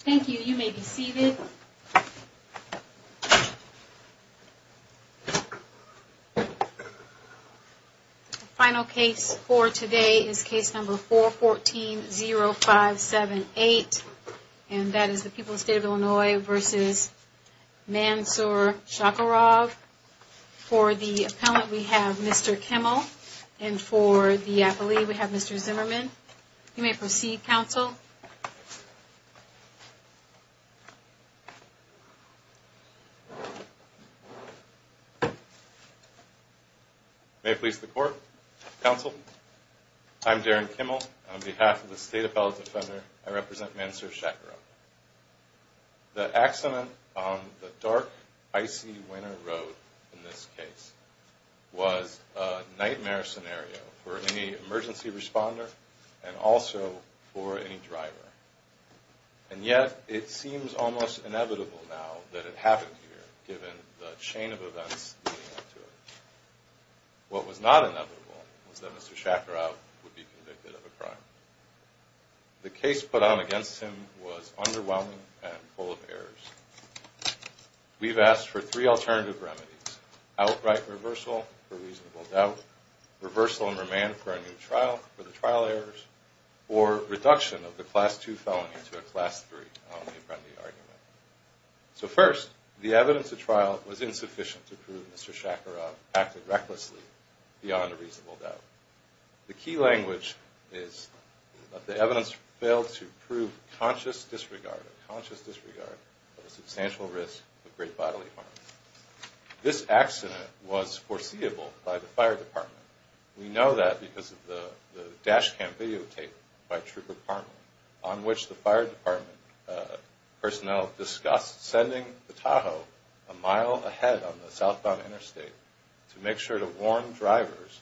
Thank you. You may be seated. The final case for today is case number 414-0578, and that is the people of the state of Illinois v. Mansour Shakirov. For the appellant, we have Mr. Kimmel, and for the appellee, we have Mr. Zimmerman. You may proceed, counsel. May it please the court, counsel, I'm Darren Kimmel, and on behalf of the state appellate defender, I represent Mansour Shakirov. The accident on the dark, icy winter road in this case was a nightmare scenario for any emergency responder and also for any driver. And yet, it seems almost inevitable now that it happened here, given the chain of events leading up to it. What was not inevitable was that Mr. Shakirov would be convicted of a crime. The case put on against him was underwhelming and full of errors. We've asked for three alternative remedies, outright reversal for reasonable doubt, reversal and remand for a new trial for the trial errors, or reduction of the class 2 felony to a class 3 felony. So first, the evidence at trial was insufficient to prove Mr. Shakirov acted recklessly beyond a reasonable doubt. The key language is that the evidence failed to prove conscious disregard of a substantial risk of great bodily harm. This accident was foreseeable by the fire department. We know that because of the dash cam videotape by Trooper Parnell on which the fire department personnel discussed sending the Tahoe a mile ahead on the southbound interstate to make sure to warn drivers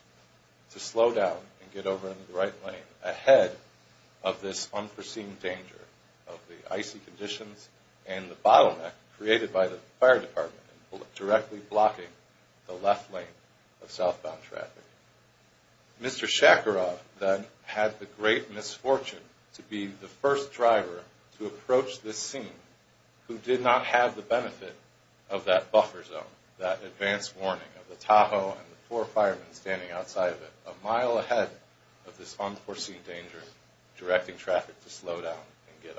to slow down and get over in the right lane ahead of this unforeseen danger of the icy conditions and the bottleneck created by the fire department directly blocking the left lane of southbound traffic. Mr. Shakirov then had the great misfortune to be the first driver to approach this scene who did not have the benefit of that buffer zone, that advance warning of the Tahoe and the four firemen standing outside of it a mile ahead of this unforeseen danger directing traffic to slow down and get over.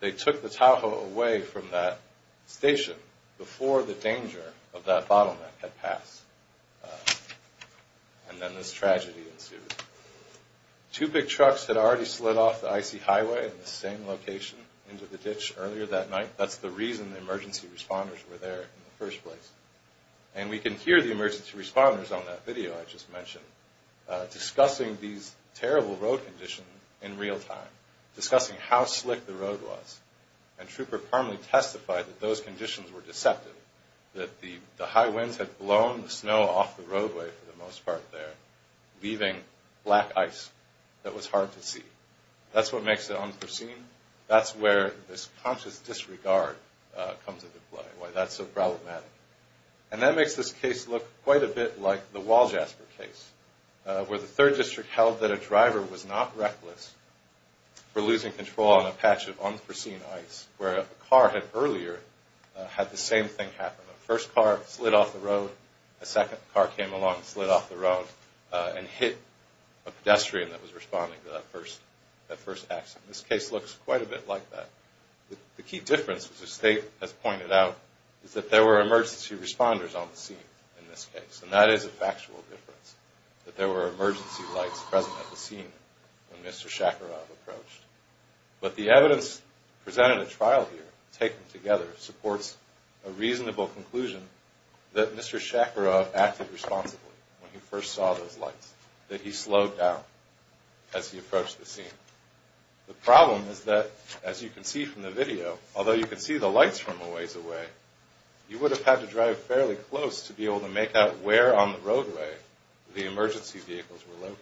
They took the Tahoe away from that station before the danger of that bottleneck had passed. And then this tragedy ensued. Two big trucks had already slid off the icy highway in the same location into the ditch earlier that night. That's the reason the emergency responders were there in the first place. And we can hear the emergency responders on that video I just mentioned discussing these terrible road conditions in real time, discussing how slick the road was. And Trooper Parnell testified that those conditions were deceptive, that the high winds had blown the snow off the roadway for the most part there, leaving black ice that was hard to see. That's what makes it unforeseen. That's where this conscious disregard comes into play, why that's so problematic. And that makes this case look quite a bit like the Wall Jasper case, where the 3rd District held that a driver was not reckless for losing control on a patch of unforeseen ice, where a car had earlier had the same thing happen. A first car slid off the road, a second car came along and slid off the road and hit a pedestrian that was responding to that first accident. This case looks quite a bit like that. The key difference, as the State has pointed out, is that there were emergency responders on the scene in this case. And that is a factual difference, that there were emergency lights present at the scene when Mr. Shakarov approached. But the evidence presented at trial here, taken together, supports a reasonable conclusion that Mr. Shakarov acted responsibly when he first saw those lights, that he slowed down as he approached the scene. The problem is that, as you can see from the video, although you can see the lights from a ways away, you would have had to drive fairly close to be able to make out where on the roadway the emergency vehicles were located.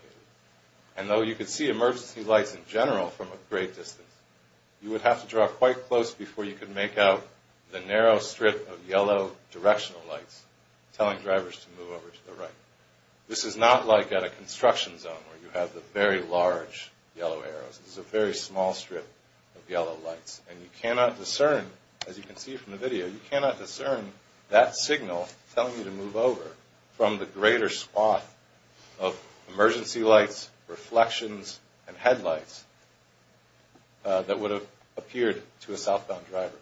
And though you can see emergency lights in general from a great distance, you would have to drive quite close before you could make out the narrow strip of yellow directional lights telling drivers to move over to the right. This is not like at a construction zone where you have the very large yellow arrows. This is a very small strip of yellow lights. And you cannot discern, as you can see from the video, you cannot discern that signal telling you to move over from the greater swath of emergency lights, reflections, and headlights that would have appeared to a southbound driver.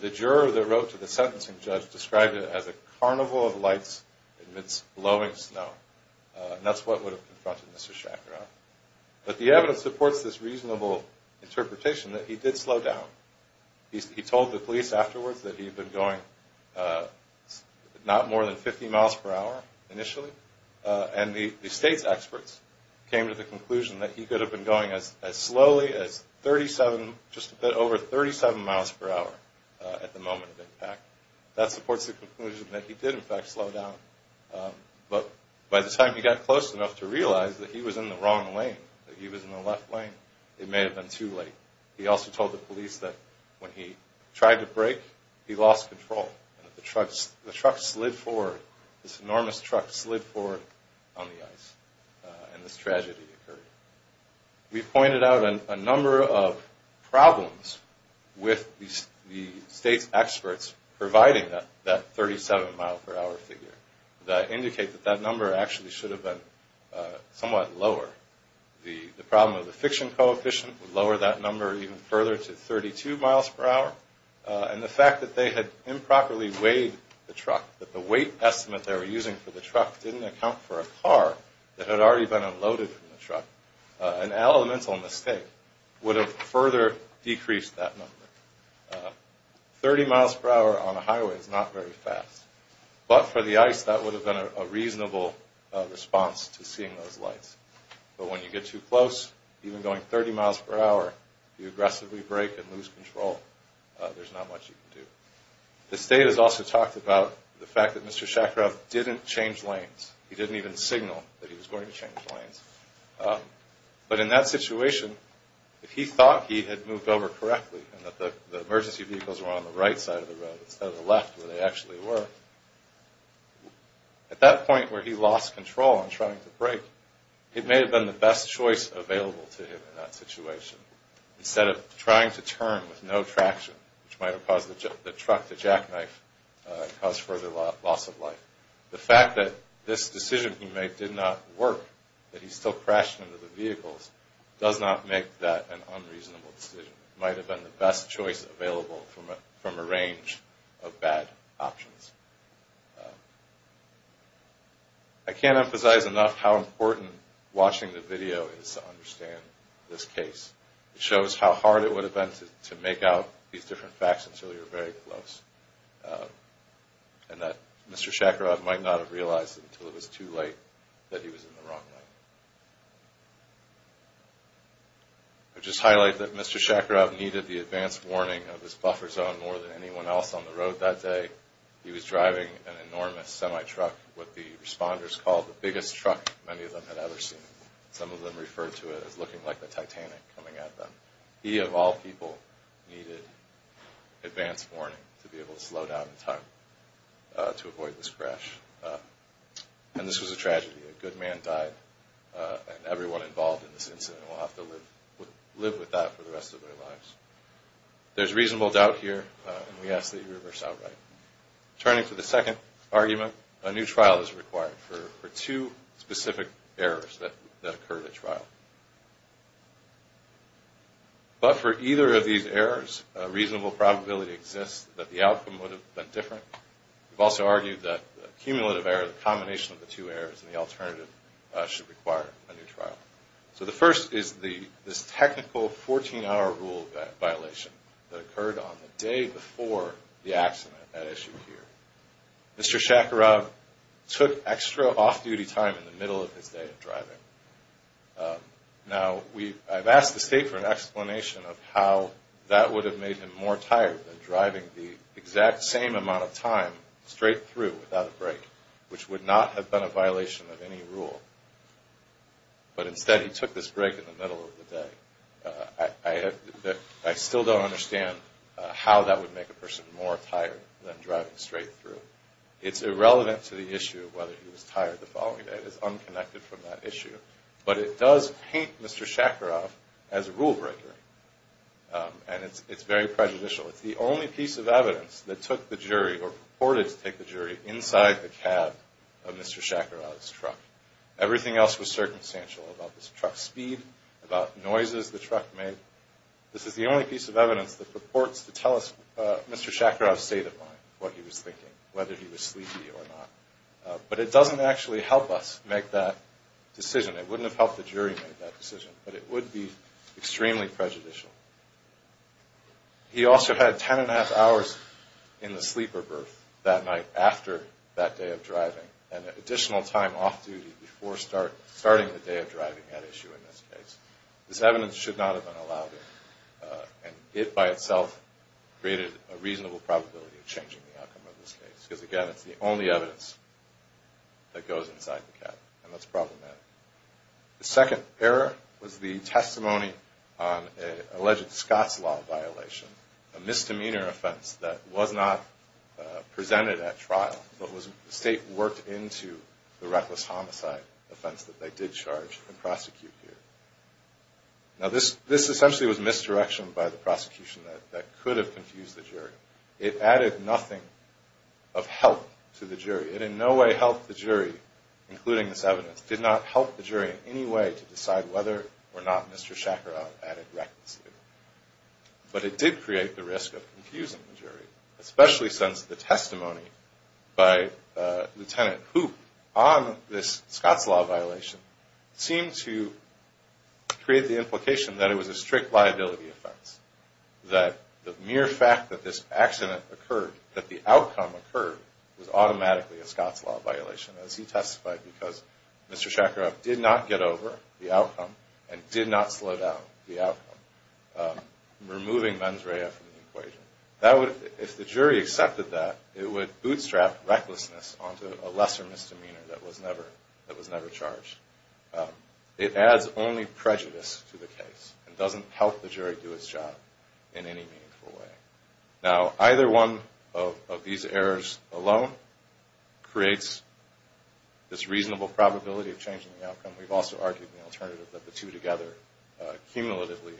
The juror that wrote to the sentencing judge described it as a carnival of lights amidst blowing snow. And that's what would have confronted Mr. Shacharoff. But the evidence supports this reasonable interpretation that he did slow down. He told the police afterwards that he had been going not more than 50 miles per hour initially. And the state's experts came to the conclusion that he could have been going as slowly as 37, just a bit over 37 miles per hour at the moment of impact. That supports the conclusion that he did, in fact, slow down. But by the time he got close enough to realize that he was in the wrong lane, that he was in the left lane, it may have been too late. He also told the police that when he tried to brake, he lost control. The truck slid forward. This enormous truck slid forward on the ice. And this tragedy occurred. We pointed out a number of problems with the state's experts providing that 37-mile-per-hour figure that indicate that that number actually should have been somewhat lower. The problem of the friction coefficient would lower that number even further to 32 miles per hour. And the fact that they had improperly weighed the truck, that the weight estimate they were using for the truck didn't account for a car that had already been unloaded from the truck, an elemental mistake would have further decreased that number. 30 miles per hour on a highway is not very fast. But for the ice, that would have been a reasonable response to seeing those lights. But when you get too close, even going 30 miles per hour, you aggressively brake and lose control, there's not much you can do. The state has also talked about the fact that Mr. Shakarov didn't change lanes. He didn't even signal that he was going to change lanes. But in that situation, if he thought he had moved over correctly and that the emergency vehicles were on the right side of the road instead of the left where they actually were, at that point where he lost control on trying to brake, it may have been the best choice available to him in that situation. Instead of trying to turn with no traction, which might have caused the truck to jackknife and caused further loss of life. The fact that this decision he made did not work, that he still crashed into the vehicles, does not make that an unreasonable decision. It might have been the best choice available from a range of bad options. I can't emphasize enough how important watching the video is to understand this case. It shows how hard it would have been to make out these different facts until you're very close. And that Mr. Shakarov might not have realized until it was too late that he was in the wrong lane. I'll just highlight that Mr. Shakarov needed the advance warning of his buffer zone more than anyone else on the road that day. He was driving an enormous semi-truck, what the responders called the biggest truck many of them had ever seen. Some of them referred to it as looking like the Titanic coming at them. He, of all people, needed advance warning to be able to slow down in time to avoid this crash. And this was a tragedy. A good man died and everyone involved in this incident will have to live with that for the rest of their lives. There's reasonable doubt here and we ask that you reverse outright. Turning to the second argument, a new trial is required for two specific errors that occurred at trial. But for either of these errors, a reasonable probability exists that the outcome would have been different. We've also argued that the cumulative error, the combination of the two errors and the alternative, should require a new trial. So the first is this technical 14-hour rule violation that occurred on the day before the accident at issue here. Mr. Shakarov took extra off-duty time in the middle of his day of driving. Now, I've asked the State for an explanation of how that would have made him more tired than driving the exact same amount of time straight through without a break, which would not have been a violation of any rule. But instead, he took this break in the middle of the day. I still don't understand how that would make a person more tired than driving straight through. It's irrelevant to the issue of whether he was tired the following day. It is unconnected from that issue. But it does paint Mr. Shakarov as a rule-breaker and it's very prejudicial. It's the only piece of evidence that took the jury or purported to take the jury inside the cab of Mr. Shakarov's truck. Everything else was circumstantial about this truck's speed, about noises the truck made. This is the only piece of evidence that purports to tell us Mr. Shakarov's state of mind, what he was thinking, whether he was sleepy or not. But it doesn't actually help us make that decision. It wouldn't have helped the jury make that decision, but it would be extremely prejudicial. He also had ten and a half hours in the sleeper berth that night after that day of driving and an additional time off duty before starting the day of driving at issue in this case. This evidence should not have been allowed in. And it by itself created a reasonable probability of changing the outcome of this case. Because again, it's the only evidence that goes inside the cab and that's problematic. The second error was the testimony on an alleged Scots law violation, a misdemeanor offense that was not presented at trial, but the state worked into the reckless homicide offense that they did charge and prosecute here. Now this essentially was misdirection by the prosecution that could have confused the jury. It added nothing of help to the jury. It in no way helped the jury, including this evidence. It did not help the jury in any way to decide whether or not Mr. Shacharov added recklessly. But it did create the risk of confusing the jury, especially since the testimony by Lieutenant Hoop on this Scots law violation seemed to create the implication that it was a strict liability offense, that the mere fact that this accident occurred, that the outcome occurred, was automatically a Scots law violation, as he testified, because Mr. Shacharov did not get over the outcome and did not slow down the outcome, removing mens rea from the equation. If the jury accepted that, it would bootstrap recklessness onto a lesser misdemeanor that was never charged. It adds only prejudice to the case and doesn't help the jury do its job in any meaningful way. Now either one of these errors alone creates this reasonable probability of changing the outcome. We've also argued in the alternative that the two together, cumulatively,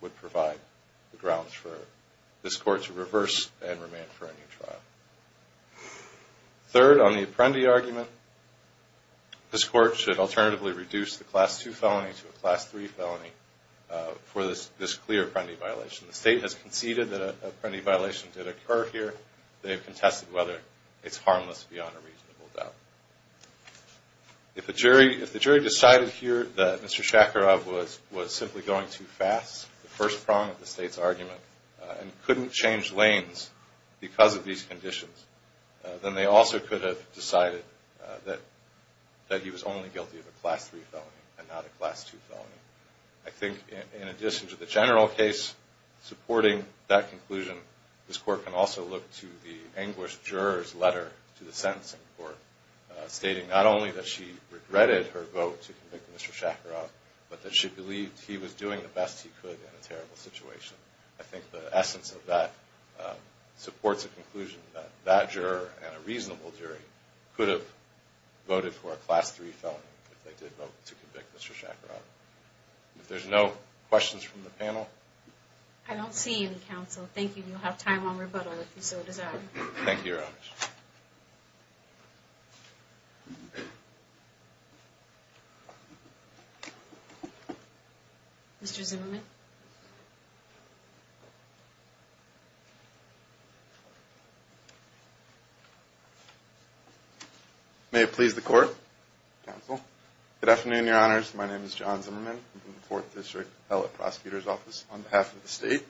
would provide the grounds for this Court to reverse and remand for a new trial. Third, on the Apprendi argument, this Court should alternatively reduce the Class II felony to a Class III felony for this clear Apprendi violation. The State has conceded that an Apprendi violation did occur here. They have contested whether it's harmless beyond a reasonable doubt. If the jury decided here that Mr. Shacharov was simply going too fast, the first prong of the State's argument, and couldn't change lanes because of these conditions, then they also could have decided that he was only guilty of a Class III felony and not a Class II felony. I think in addition to the general case supporting that conclusion, this Court can also look to the anguished juror's letter to the Sentencing Court, stating not only that she regretted her vote to convict Mr. Shacharov, but that she believed he was doing the best he could in a terrible situation. I think the essence of that supports a conclusion that that juror and a reasonable jury could have voted for a Class III felony if they did vote to convict Mr. Shacharov. If there's no questions from the panel... I don't see any, Counsel. Thank you. You'll have time on rebuttal if you so desire. Thank you, Your Honor. Mr. Zimmerman. May it please the Court, Counsel. Good afternoon, Your Honors. My name is John Zimmerman. I'm from the Fourth District Appellate Prosecutor's Office on behalf of the State.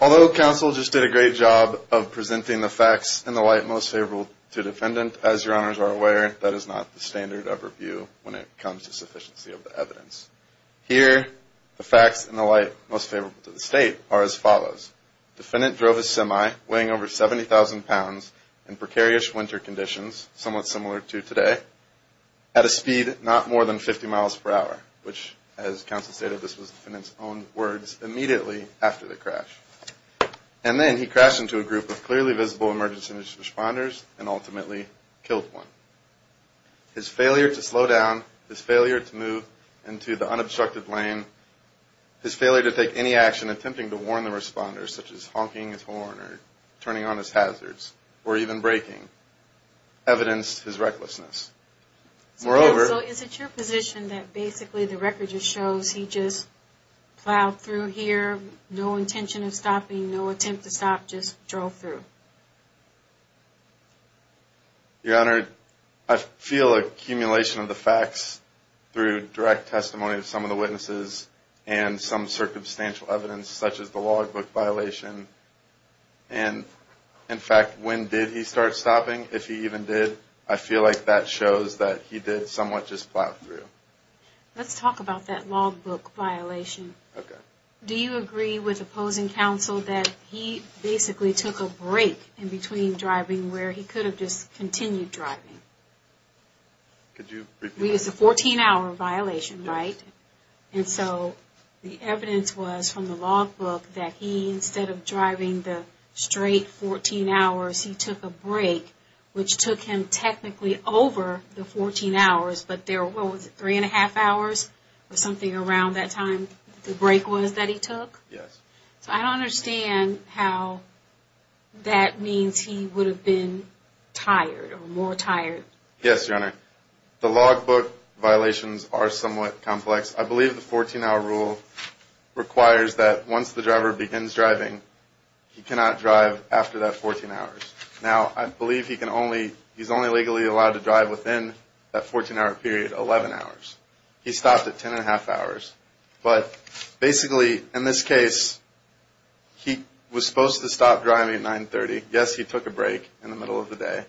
Although Counsel just did a great job of presenting the facts in the light most favorable to the defendant, as Your Honors are aware, that is not the standard of review when it comes to sufficiency of the evidence. Here, the facts in the light most favorable to the State are as follows. The defendant drove a semi weighing over 70,000 pounds in precarious winter conditions, somewhat similar to today, at a speed not more than 50 miles per hour, which, as Counsel stated, this was the defendant's own words immediately after the crash. And then he crashed into a group of clearly visible emergency responders and ultimately killed one. His failure to slow down, his failure to move into the unobstructed lane, his failure to take any action attempting to warn the responders, such as honking his horn or turning on his hazards, or even braking, evidenced his recklessness. Moreover... So is it your position that basically the record just shows he just plowed through here, no intention of stopping, no attempt to stop, just drove through? Your Honor, I feel an accumulation of the facts through direct testimony of some of the witnesses and some circumstantial evidence, such as the logbook violation. And, in fact, when did he start stopping? If he even did, I feel like that shows that he did somewhat just plow through. Let's talk about that logbook violation. Do you agree with opposing counsel that he basically took a break in between driving where he could have just continued driving? It's a 14-hour violation, right? And so the evidence was from the logbook that he, instead of driving the straight 14 hours, he took a break, which took him technically over the 14 hours, but there were, what was it, three and a half hours or something around that time the break was that he took? Yes. So I don't understand how that means he would have been tired or more tired. Yes, Your Honor. The logbook violations are somewhat complex. I believe the 14-hour rule requires that once the driver begins driving, he cannot drive after that 14 hours. Now, I believe he can only, he's only legally allowed to drive within that 14-hour period, 11 hours. He stopped at 10 and a half hours, but basically, in this case, he was supposed to stop driving at 9.30. Yes, he took a break in the middle of the day.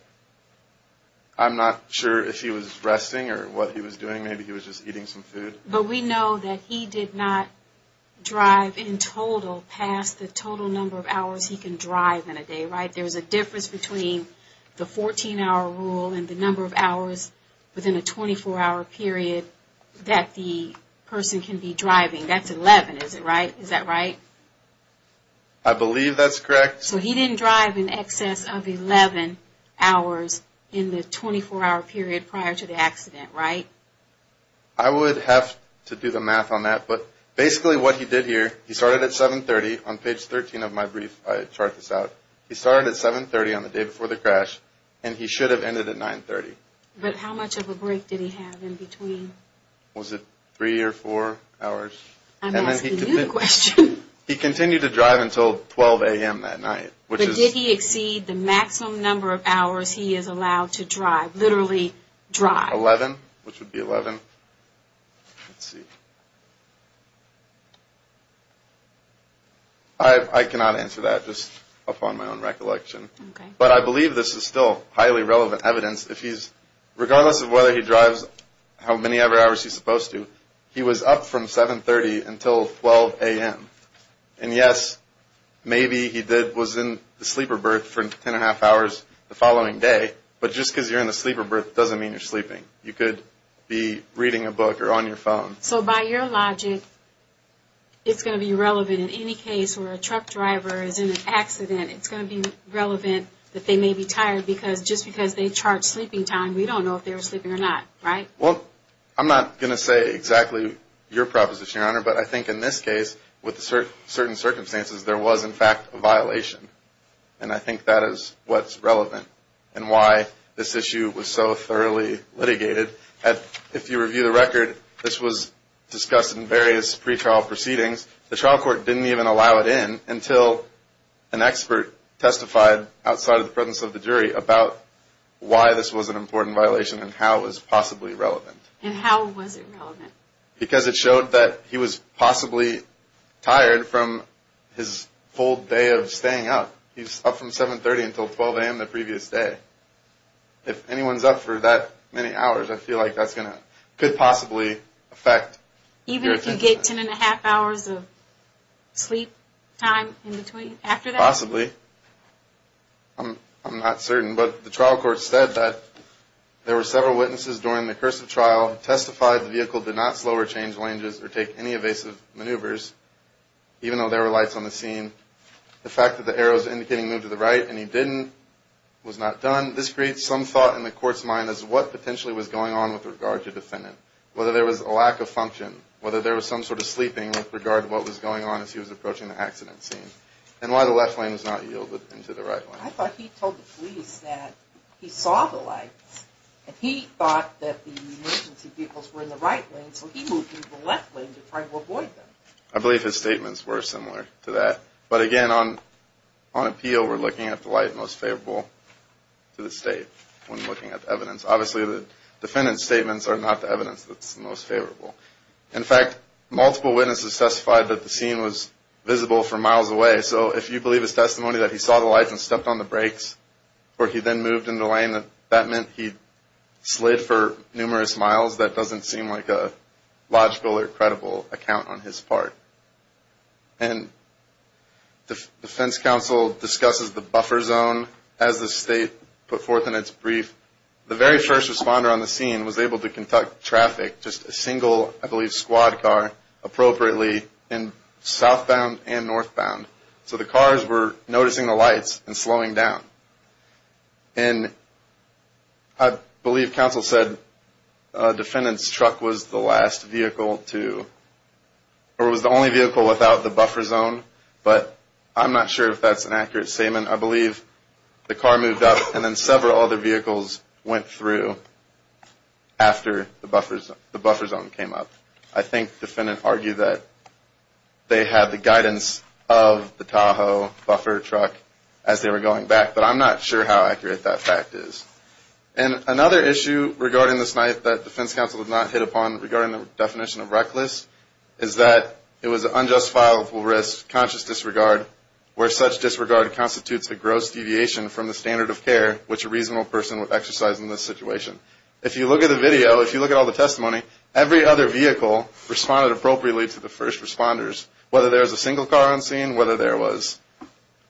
I'm not sure if he was resting or what he was doing. Maybe he was just eating some food. But we know that he did not drive in total past the total number of hours he can drive in a day, right? There's a difference between the 14-hour rule and the number of hours within a 24-hour period that the person can be driving. That's 11, is it right? Is that right? I believe that's correct. So he didn't drive in excess of 11 hours in the 24-hour period prior to the accident, right? I would have to do the math on that, but basically what he did here, he started at 7.30 on page 13 of my brief. I chart this out. He started at 7.30 on the day before the crash, and he should have ended at 9.30. But how much of a break did he have in between? Was it three or four hours? He continued to drive until 12 a.m. that night. But did he exceed the maximum number of hours he is allowed to drive, literally drive? 11, which would be 11. I cannot answer that just upon my own recollection. But I believe this is still highly relevant evidence. Regardless of whether he drives how many hours he's supposed to, he was up from 7.30 until 12 a.m. And yes, maybe he was in the sleeper berth for 10.5 hours the following day, but just because you're in the sleeper berth doesn't mean you're sleeping. You could be reading a book or on your phone. So by your logic, it's going to be relevant in any case where a truck driver is in an accident. It's going to be relevant that they may be tired, because just because they chart sleeping time, we don't know if they were sleeping or not, right? Well, I'm not going to say exactly your proposition, Your Honor, but I think in this case, with certain circumstances, there was in fact a violation. And I think that is what's relevant and why this issue was so thoroughly litigated. If you review the record, this was discussed in various pretrial proceedings. The trial court didn't even allow it in until an expert testified outside of the presence of the jury about why this was an important violation and how it was possibly relevant. And how was it relevant? Because it showed that he was possibly tired from his full day of staying up. He was up from 7.30 until 12 a.m. the previous day. If anyone's up for that many hours, I feel like that could possibly affect your thinking. Even if you get 10.5 hours of sleep time in between, after that? Possibly. I'm not certain. But the trial court said that there were several witnesses during the cursive trial who testified the vehicle did not slow or change ranges or take any evasive maneuvers, even though there were lights on the scene. The fact that the arrows indicating move to the right and he didn't was not done. This creates some thought in the court's mind as to what potentially was going on with regard to the defendant. Whether there was a lack of function, whether there was some sort of sleeping with regard to what was going on as he was approaching the accident scene and why the left lane was not yielded into the right lane. I thought he told the police that he saw the lights and he thought that the emergency vehicles were in the right lane so he moved into the left lane to try to avoid them. I believe his statements were similar to that. But again, on appeal, we're looking at the light most favorable to the state when looking at the evidence. Obviously the defendant's statements are not the evidence that's most favorable. In fact, multiple witnesses testified that the scene was visible from miles away. So if you believe his testimony that he saw the lights and stepped on the brakes before he then moved into the lane, that meant he slid for numerous miles, that doesn't seem like a logical or credible account on his part. And defense counsel discusses the buffer zone as the state put forth in its brief. The very first responder on the scene was able to conduct traffic, just a single, I believe, squad car appropriately in southbound and northbound. So the cars were noticing the lights and slowing down. And I believe counsel said defendant's truck was the last vehicle to, or was the only vehicle without the buffer zone. But I'm not sure if that's an accurate statement. I believe the car moved up and then several other vehicles went through after the buffer zone came up. I think the defendant argued that they had the guidance of the Tahoe buffer truck as they were going back. I'm not sure how accurate that fact is. And another issue regarding the snipe that defense counsel did not hit upon regarding the definition of reckless is that it was an unjustifiable risk, conscious disregard, where such disregard constitutes a gross deviation from the standard of care which a reasonable person would exercise in this situation. If you look at the video, if you look at all the testimony, every other vehicle responded appropriately to the first responders, whether there was a single car on scene, whether there was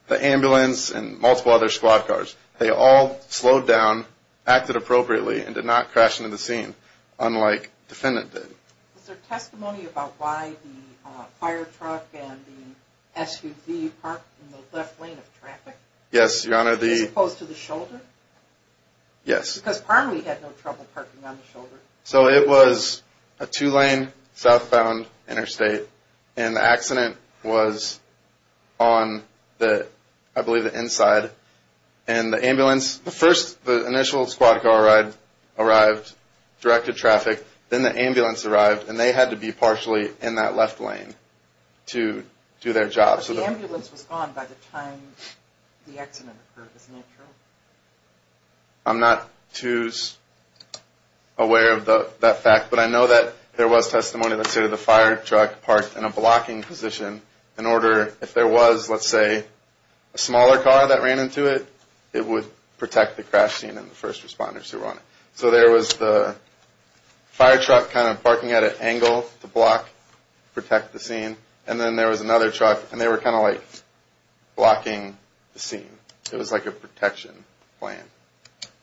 the ambulance and multiple other squad cars. They all slowed down, acted appropriately, and did not crash into the scene, unlike defendant did. Is there testimony about why the fire truck and the SUV parked in the left lane of traffic? Yes, Your Honor. As opposed to the shoulder? Yes. Because Parnelly had no trouble parking on the shoulder. So it was a two-lane southbound interstate, and the accident was on the, I believe, the inside. And the ambulance, the first, the initial squad car arrived, directed traffic, then the ambulance arrived, and they had to be partially in that left lane to do their job. So the ambulance was gone by the time the accident occurred, isn't that true? I'm not too aware of that fact, but I know that there was testimony, let's say, that the fire truck parked in a blocking position in order, if there was, let's say, a smaller car that ran into it, it would protect the crash scene and the first responders who were on it. So there was the fire truck kind of parking at an angle to block, protect the scene, and then there was another truck, and they were kind of like blocking the scene. It was like a protection plan.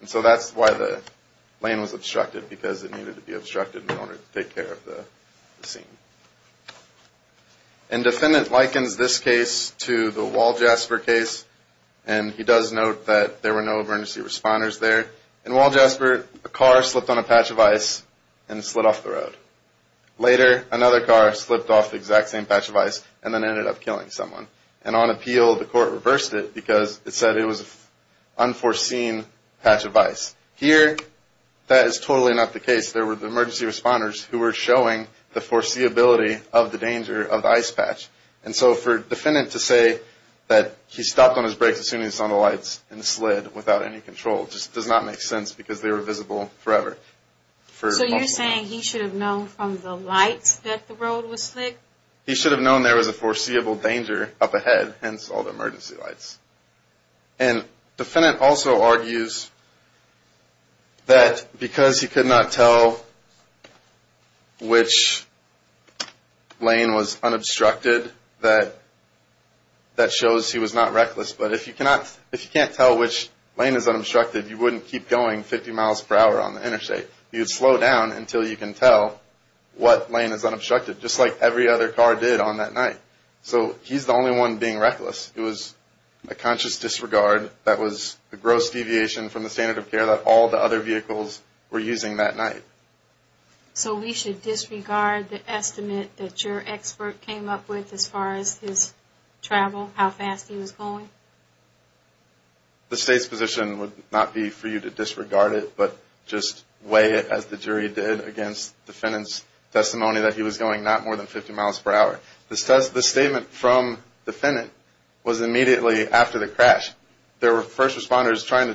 And so that's why the lane was obstructed, because it needed to be obstructed in order to take care of the scene. And defendant likens this case to the Wall Jasper case, and he does note that there were no emergency responders there. In Wall Jasper, a car slipped on a patch of ice and slid off the road. Later, another car slipped off the exact same patch of ice and then ended up killing someone. And on appeal, the court reversed it because it said it was an unforeseen patch of ice. Here, that is totally not the case. There were the emergency responders who were showing the foreseeability of the danger of the ice patch. And so for defendant to say that he stopped on his brakes as soon as he saw the lights and slid without any control just does not make sense because they were visible forever. So you're saying he should have known from the lights that the road was slick? He should have known there was a foreseeable danger up ahead, hence all the emergency lights. And defendant also argues that because he could not tell which lane was unobstructed, that shows he was not reckless. But if you can't tell which lane is unobstructed, you wouldn't keep going 50 miles per hour on the interstate. You'd slow down until you can tell what lane is unobstructed, just like every other car did on that night. So he's the only one being reckless. It was a conscious disregard that was a gross deviation from the standard of care that all the other vehicles were using that night. So we should disregard the estimate that your expert came up with as far as his travel, how fast he was going? The state's position would not be for you to disregard it, but just weigh it as the jury did against defendant's testimony that he was going not more than 50 miles per hour. The statement from defendant was immediately after the crash. There were first responders trying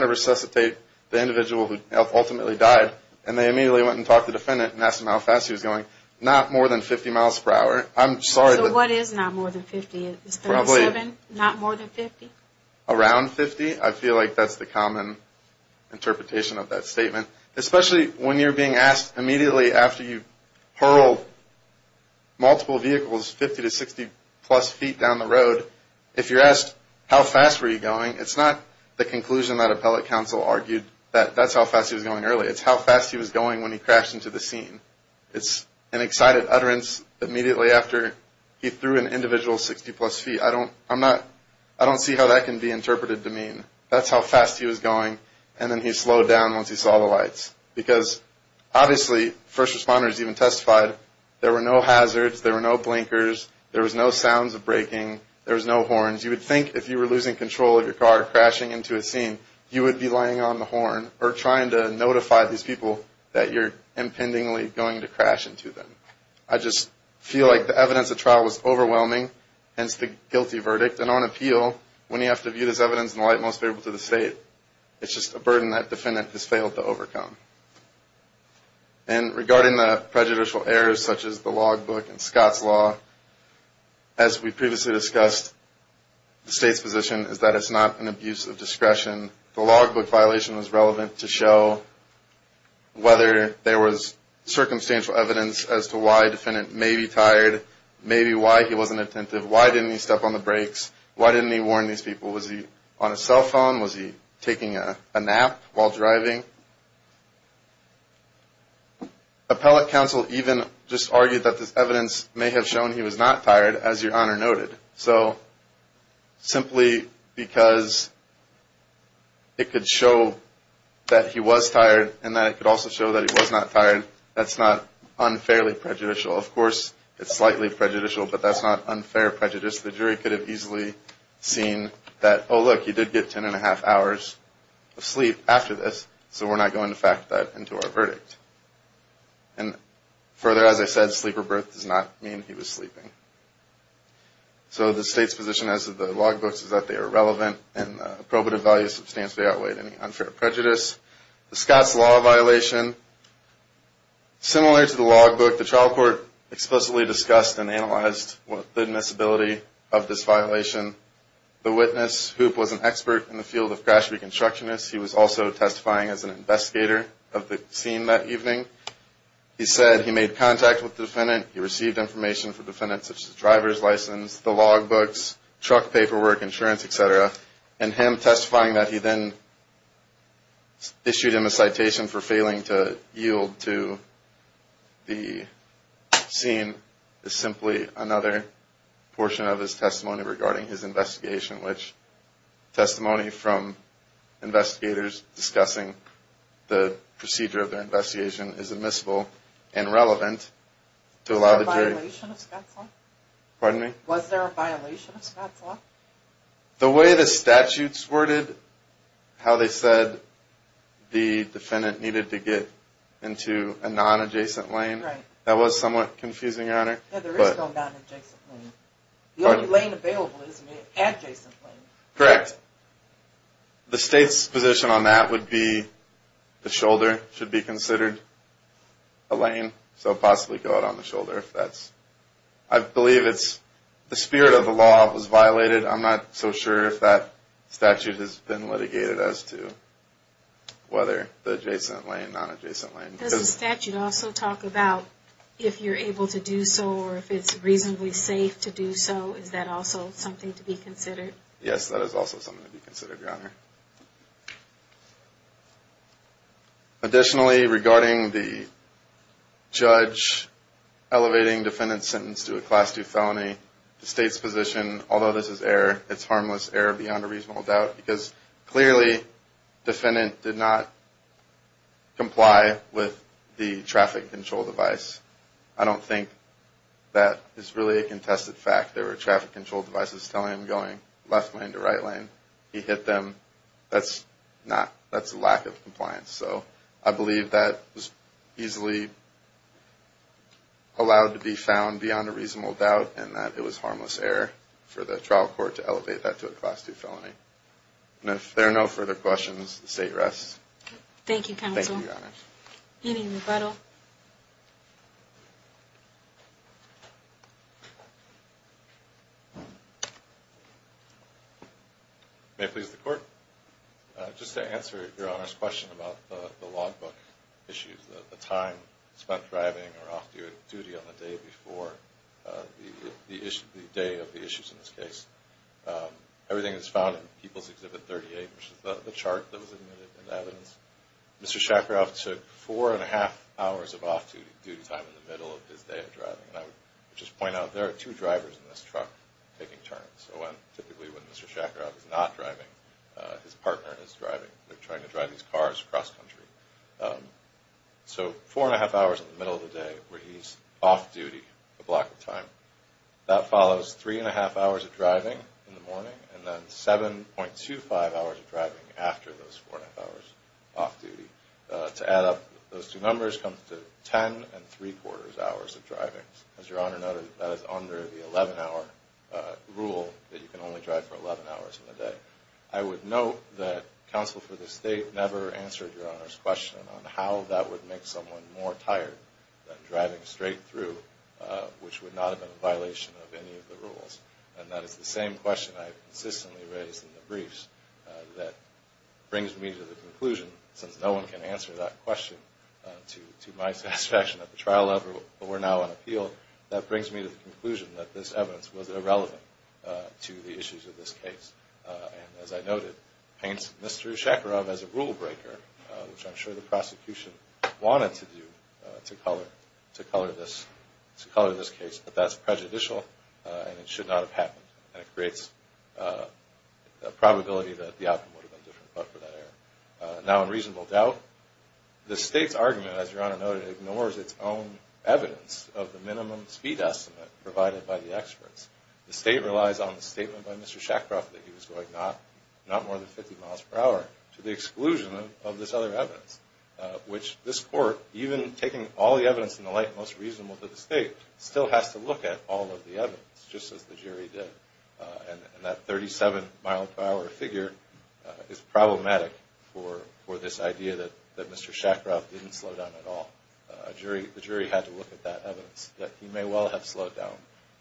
to resuscitate the individual who ultimately died, and they immediately went and talked to defendant and asked him how fast he was going. Not more than 50 miles per hour. Around 50, I feel like that's the common interpretation of that statement. Especially when you're being asked immediately after you hurled multiple vehicles 50 to 60 plus feet down the road, if you're asked how fast were you going, it's not the conclusion that appellate counsel argued that that's how fast he was going early. It's how fast he was going when he crashed into the scene. It's an excited utterance immediately after he threw an individual 60 plus feet. I don't see how that can be interpreted to mean that's how fast he was going, and then he slowed down once he saw the lights. Because obviously first responders even testified there were no hazards, there were no blinkers, there was no sounds of braking, there was no horns. You would think if you were losing control of your car crashing into a scene, you would be laying on the horn or trying to notify these people that you're impendingly going to crash into them. I just feel like the evidence at trial was overwhelming, hence the guilty verdict. And on appeal, when you have to view this evidence in the light most favorable to the state, it's just a burden that defendant has failed to overcome. And regarding the prejudicial errors such as the logbook and Scott's law, as we previously discussed, the state's position is that it's not an abuse of discretion. The logbook violation was relevant to show whether there was circumstantial evidence as to why defendant may be tired, maybe why he wasn't attentive, why didn't he step on the brakes, why didn't he warn these people, was he on a cell phone, was he taking a nap while driving? Appellate counsel even just argued that this evidence may have shown he was not tired, as your Honor noted. So simply because it could show that he was tired and that it could also show that he was not tired, that's not unfairly prejudicial. Of course, it's slightly prejudicial, but that's not unfair prejudice. The jury could have easily seen that, oh, look, he did get ten and a half hours of sleep after this, so we're not going to factor that into our verdict. And further, as I said, sleep or birth does not mean he was sleeping. So the state's position as to the logbooks is that they are relevant, and the probative value substantially outweighed any unfair prejudice. The Scott's law violation, similar to the logbook, the trial court explicitly discussed and analyzed the admissibility of this violation. The witness, Hoop, was an expert in the field of crash reconstructionists. He was also testifying as an investigator of the scene that evening. He said he made contact with the defendant. He received information from the defendant, such as the driver's license, the logbooks, truck paperwork, insurance, etc. And him testifying that he then issued him a citation for failing to yield to the scene is simply another portion of his testimony regarding his investigation, which testimony from investigators discussing the procedure of their investigation is admissible and relevant to allow the jury. Was there a violation of Scott's law? The way the statutes worded how they said the defendant needed to get into a nonadjacent lane, that was somewhat confusing, Your Honor. The only lane available is an adjacent lane. Correct. The state's position on that would be the shoulder should be considered a lane, so possibly go out on the shoulder. I'm not so sure if that statute has been litigated as to whether the adjacent lane, nonadjacent lane. Does the statute also talk about if you're able to do so or if it's reasonably safe to do so? Is that also something to be considered? Yes, that is also something to be considered, Your Honor. Additionally, regarding the judge elevating defendant's sentence to a Class 2 felony, the state's position, although this is error, it's harmless error beyond a reasonable doubt because clearly defendant did not comply with the traffic control device. I don't think that is really a contested fact. There were traffic control devices telling him going left lane to right lane. He hit them. That's not, that's a lack of compliance. So I believe that was easily allowed to be found beyond a reasonable doubt and that it was harmless error for the trial court to elevate that to a Class 2 felony. And if there are no further questions, the state rests. Thank you, Counsel. Any rebuttal? May it please the Court. Just to answer Your Honor's question about the logbook issues, the time spent driving or off-duty on the day before the day of the issues in this case. Everything is found in People's Exhibit 38, which is the chart that was admitted in evidence. Mr. Shakarov took four and a half hours of off-duty time in the middle of his day of driving. And I would just point out there are two drivers in this truck taking turns. So typically when Mr. Shakarov is not driving, his partner is driving. They're trying to drive these cars cross-country. So four and a half hours in the middle of the day where he's off-duty a block of time. That follows three and a half hours of driving in the morning and then 7.25 hours of driving after those four and a half hours off-duty. To add up those two numbers comes to ten and three-quarters hours of driving. As Your Honor noted, that is under the 11-hour rule that you can only drive for 11 hours in a day. I would note that counsel for the State never answered Your Honor's question on how that would make someone more tired than driving straight through, which would not have been a violation of any of the rules. And that is the same question I have consistently raised in the briefs that brings me to the conclusion, since no one can answer that question to my satisfaction at the trial level, but we're now on appeal, that brings me to the conclusion that this evidence was irrelevant to the issues of this case. And as I noted, it paints Mr. Shakarov as a rule breaker, which I'm sure the prosecution wanted to do to color this case. But that's prejudicial and it should not have happened. And it creates a probability that the outcome would have been different, but for that error. Now, in reasonable doubt, the State's argument, as Your Honor noted, ignores its own evidence of the minimum speed estimate provided by the experts. The State relies on the statement by Mr. Shakarov that he was going not more than 50 miles per hour, to the exclusion of this other evidence, which this Court, even taking all the evidence in the light most reasonable to the State, still has to look at all of the evidence, just as the jury did. And that 37 mile per hour figure is problematic for this idea that Mr. Shakarov didn't slow down at all. The jury had to look at that evidence, that he may well have slowed down.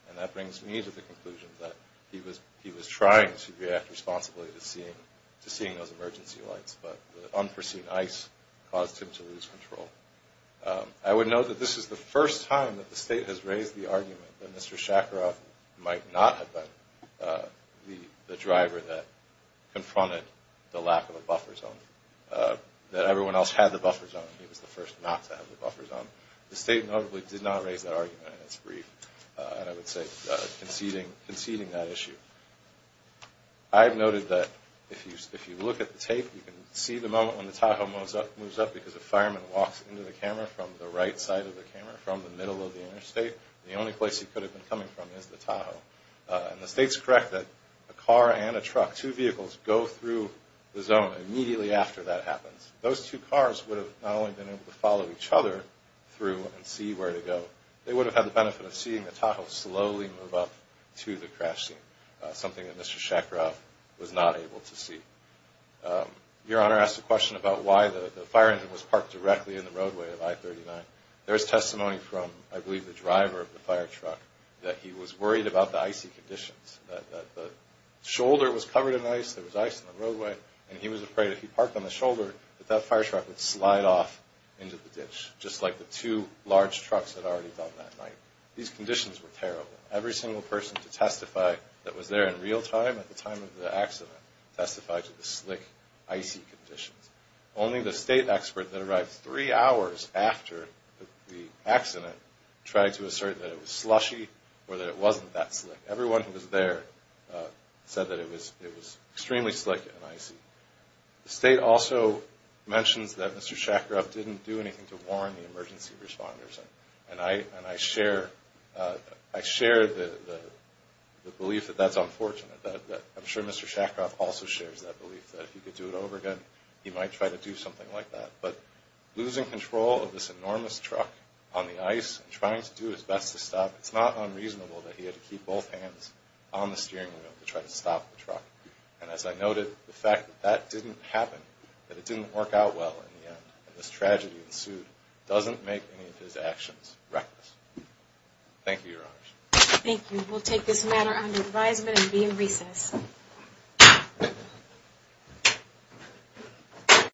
And that brings me to the conclusion that he was trying to react responsibly to seeing those emergency lights, but the unforeseen ice caused him to lose control. I would note that this is the first time that the State has raised the argument that Mr. Shakarov might not have been the driver that confronted the lack of a buffer zone, that everyone else had the buffer zone, and he was the first not to have the buffer zone. The State notably did not raise that argument in its brief, and I would say conceding that issue. I have noted that if you look at the tape, you can see the moment when the Tahoe moves up, because a fireman walks into the camera from the right side of the camera, from the middle of the interstate. The only place he could have been coming from is the Tahoe. And the State's correct that a car and a truck, two vehicles, go through the zone immediately after that happens. Those two cars would have not only been able to follow each other through and see where to go, they would have had the benefit of seeing the Tahoe slowly move up to the crash scene, something that Mr. Shakarov was not able to see. Your Honor asked a question about why the fire engine was parked directly in the roadway of I-39. There is testimony from, I believe, the driver of the fire truck that he was worried about the icy conditions, that the shoulder was covered in ice, there was ice in the roadway, and he was afraid if he parked on the shoulder, that that fire truck would slide off into the ditch, just like the two large trucks had already done that night. These conditions were terrible. Every single person to testify that was there in real time at the time of the accident testified to the slick, icy conditions. Only the State expert that arrived three hours after the accident tried to assert that it was slushy or that it wasn't that slick. Everyone who was there said that it was extremely slick and icy. The State also mentions that Mr. Shakarov didn't do anything to warn the emergency responders, and I share the belief that that's unfortunate. I'm sure Mr. Shakarov also shares that belief that if he could do it over again, he might try to do something like that. But losing control of this enormous truck on the ice and trying to do his best to stop, it's not unreasonable that he had to keep both hands on the steering wheel to try to stop the truck. And as I noted, the fact that that didn't happen, that it didn't work out well in the end, and this tragedy ensued, doesn't make any of his actions reckless. Thank you, Your Honors. Thank you. We'll take this matter under advisement and be in recess.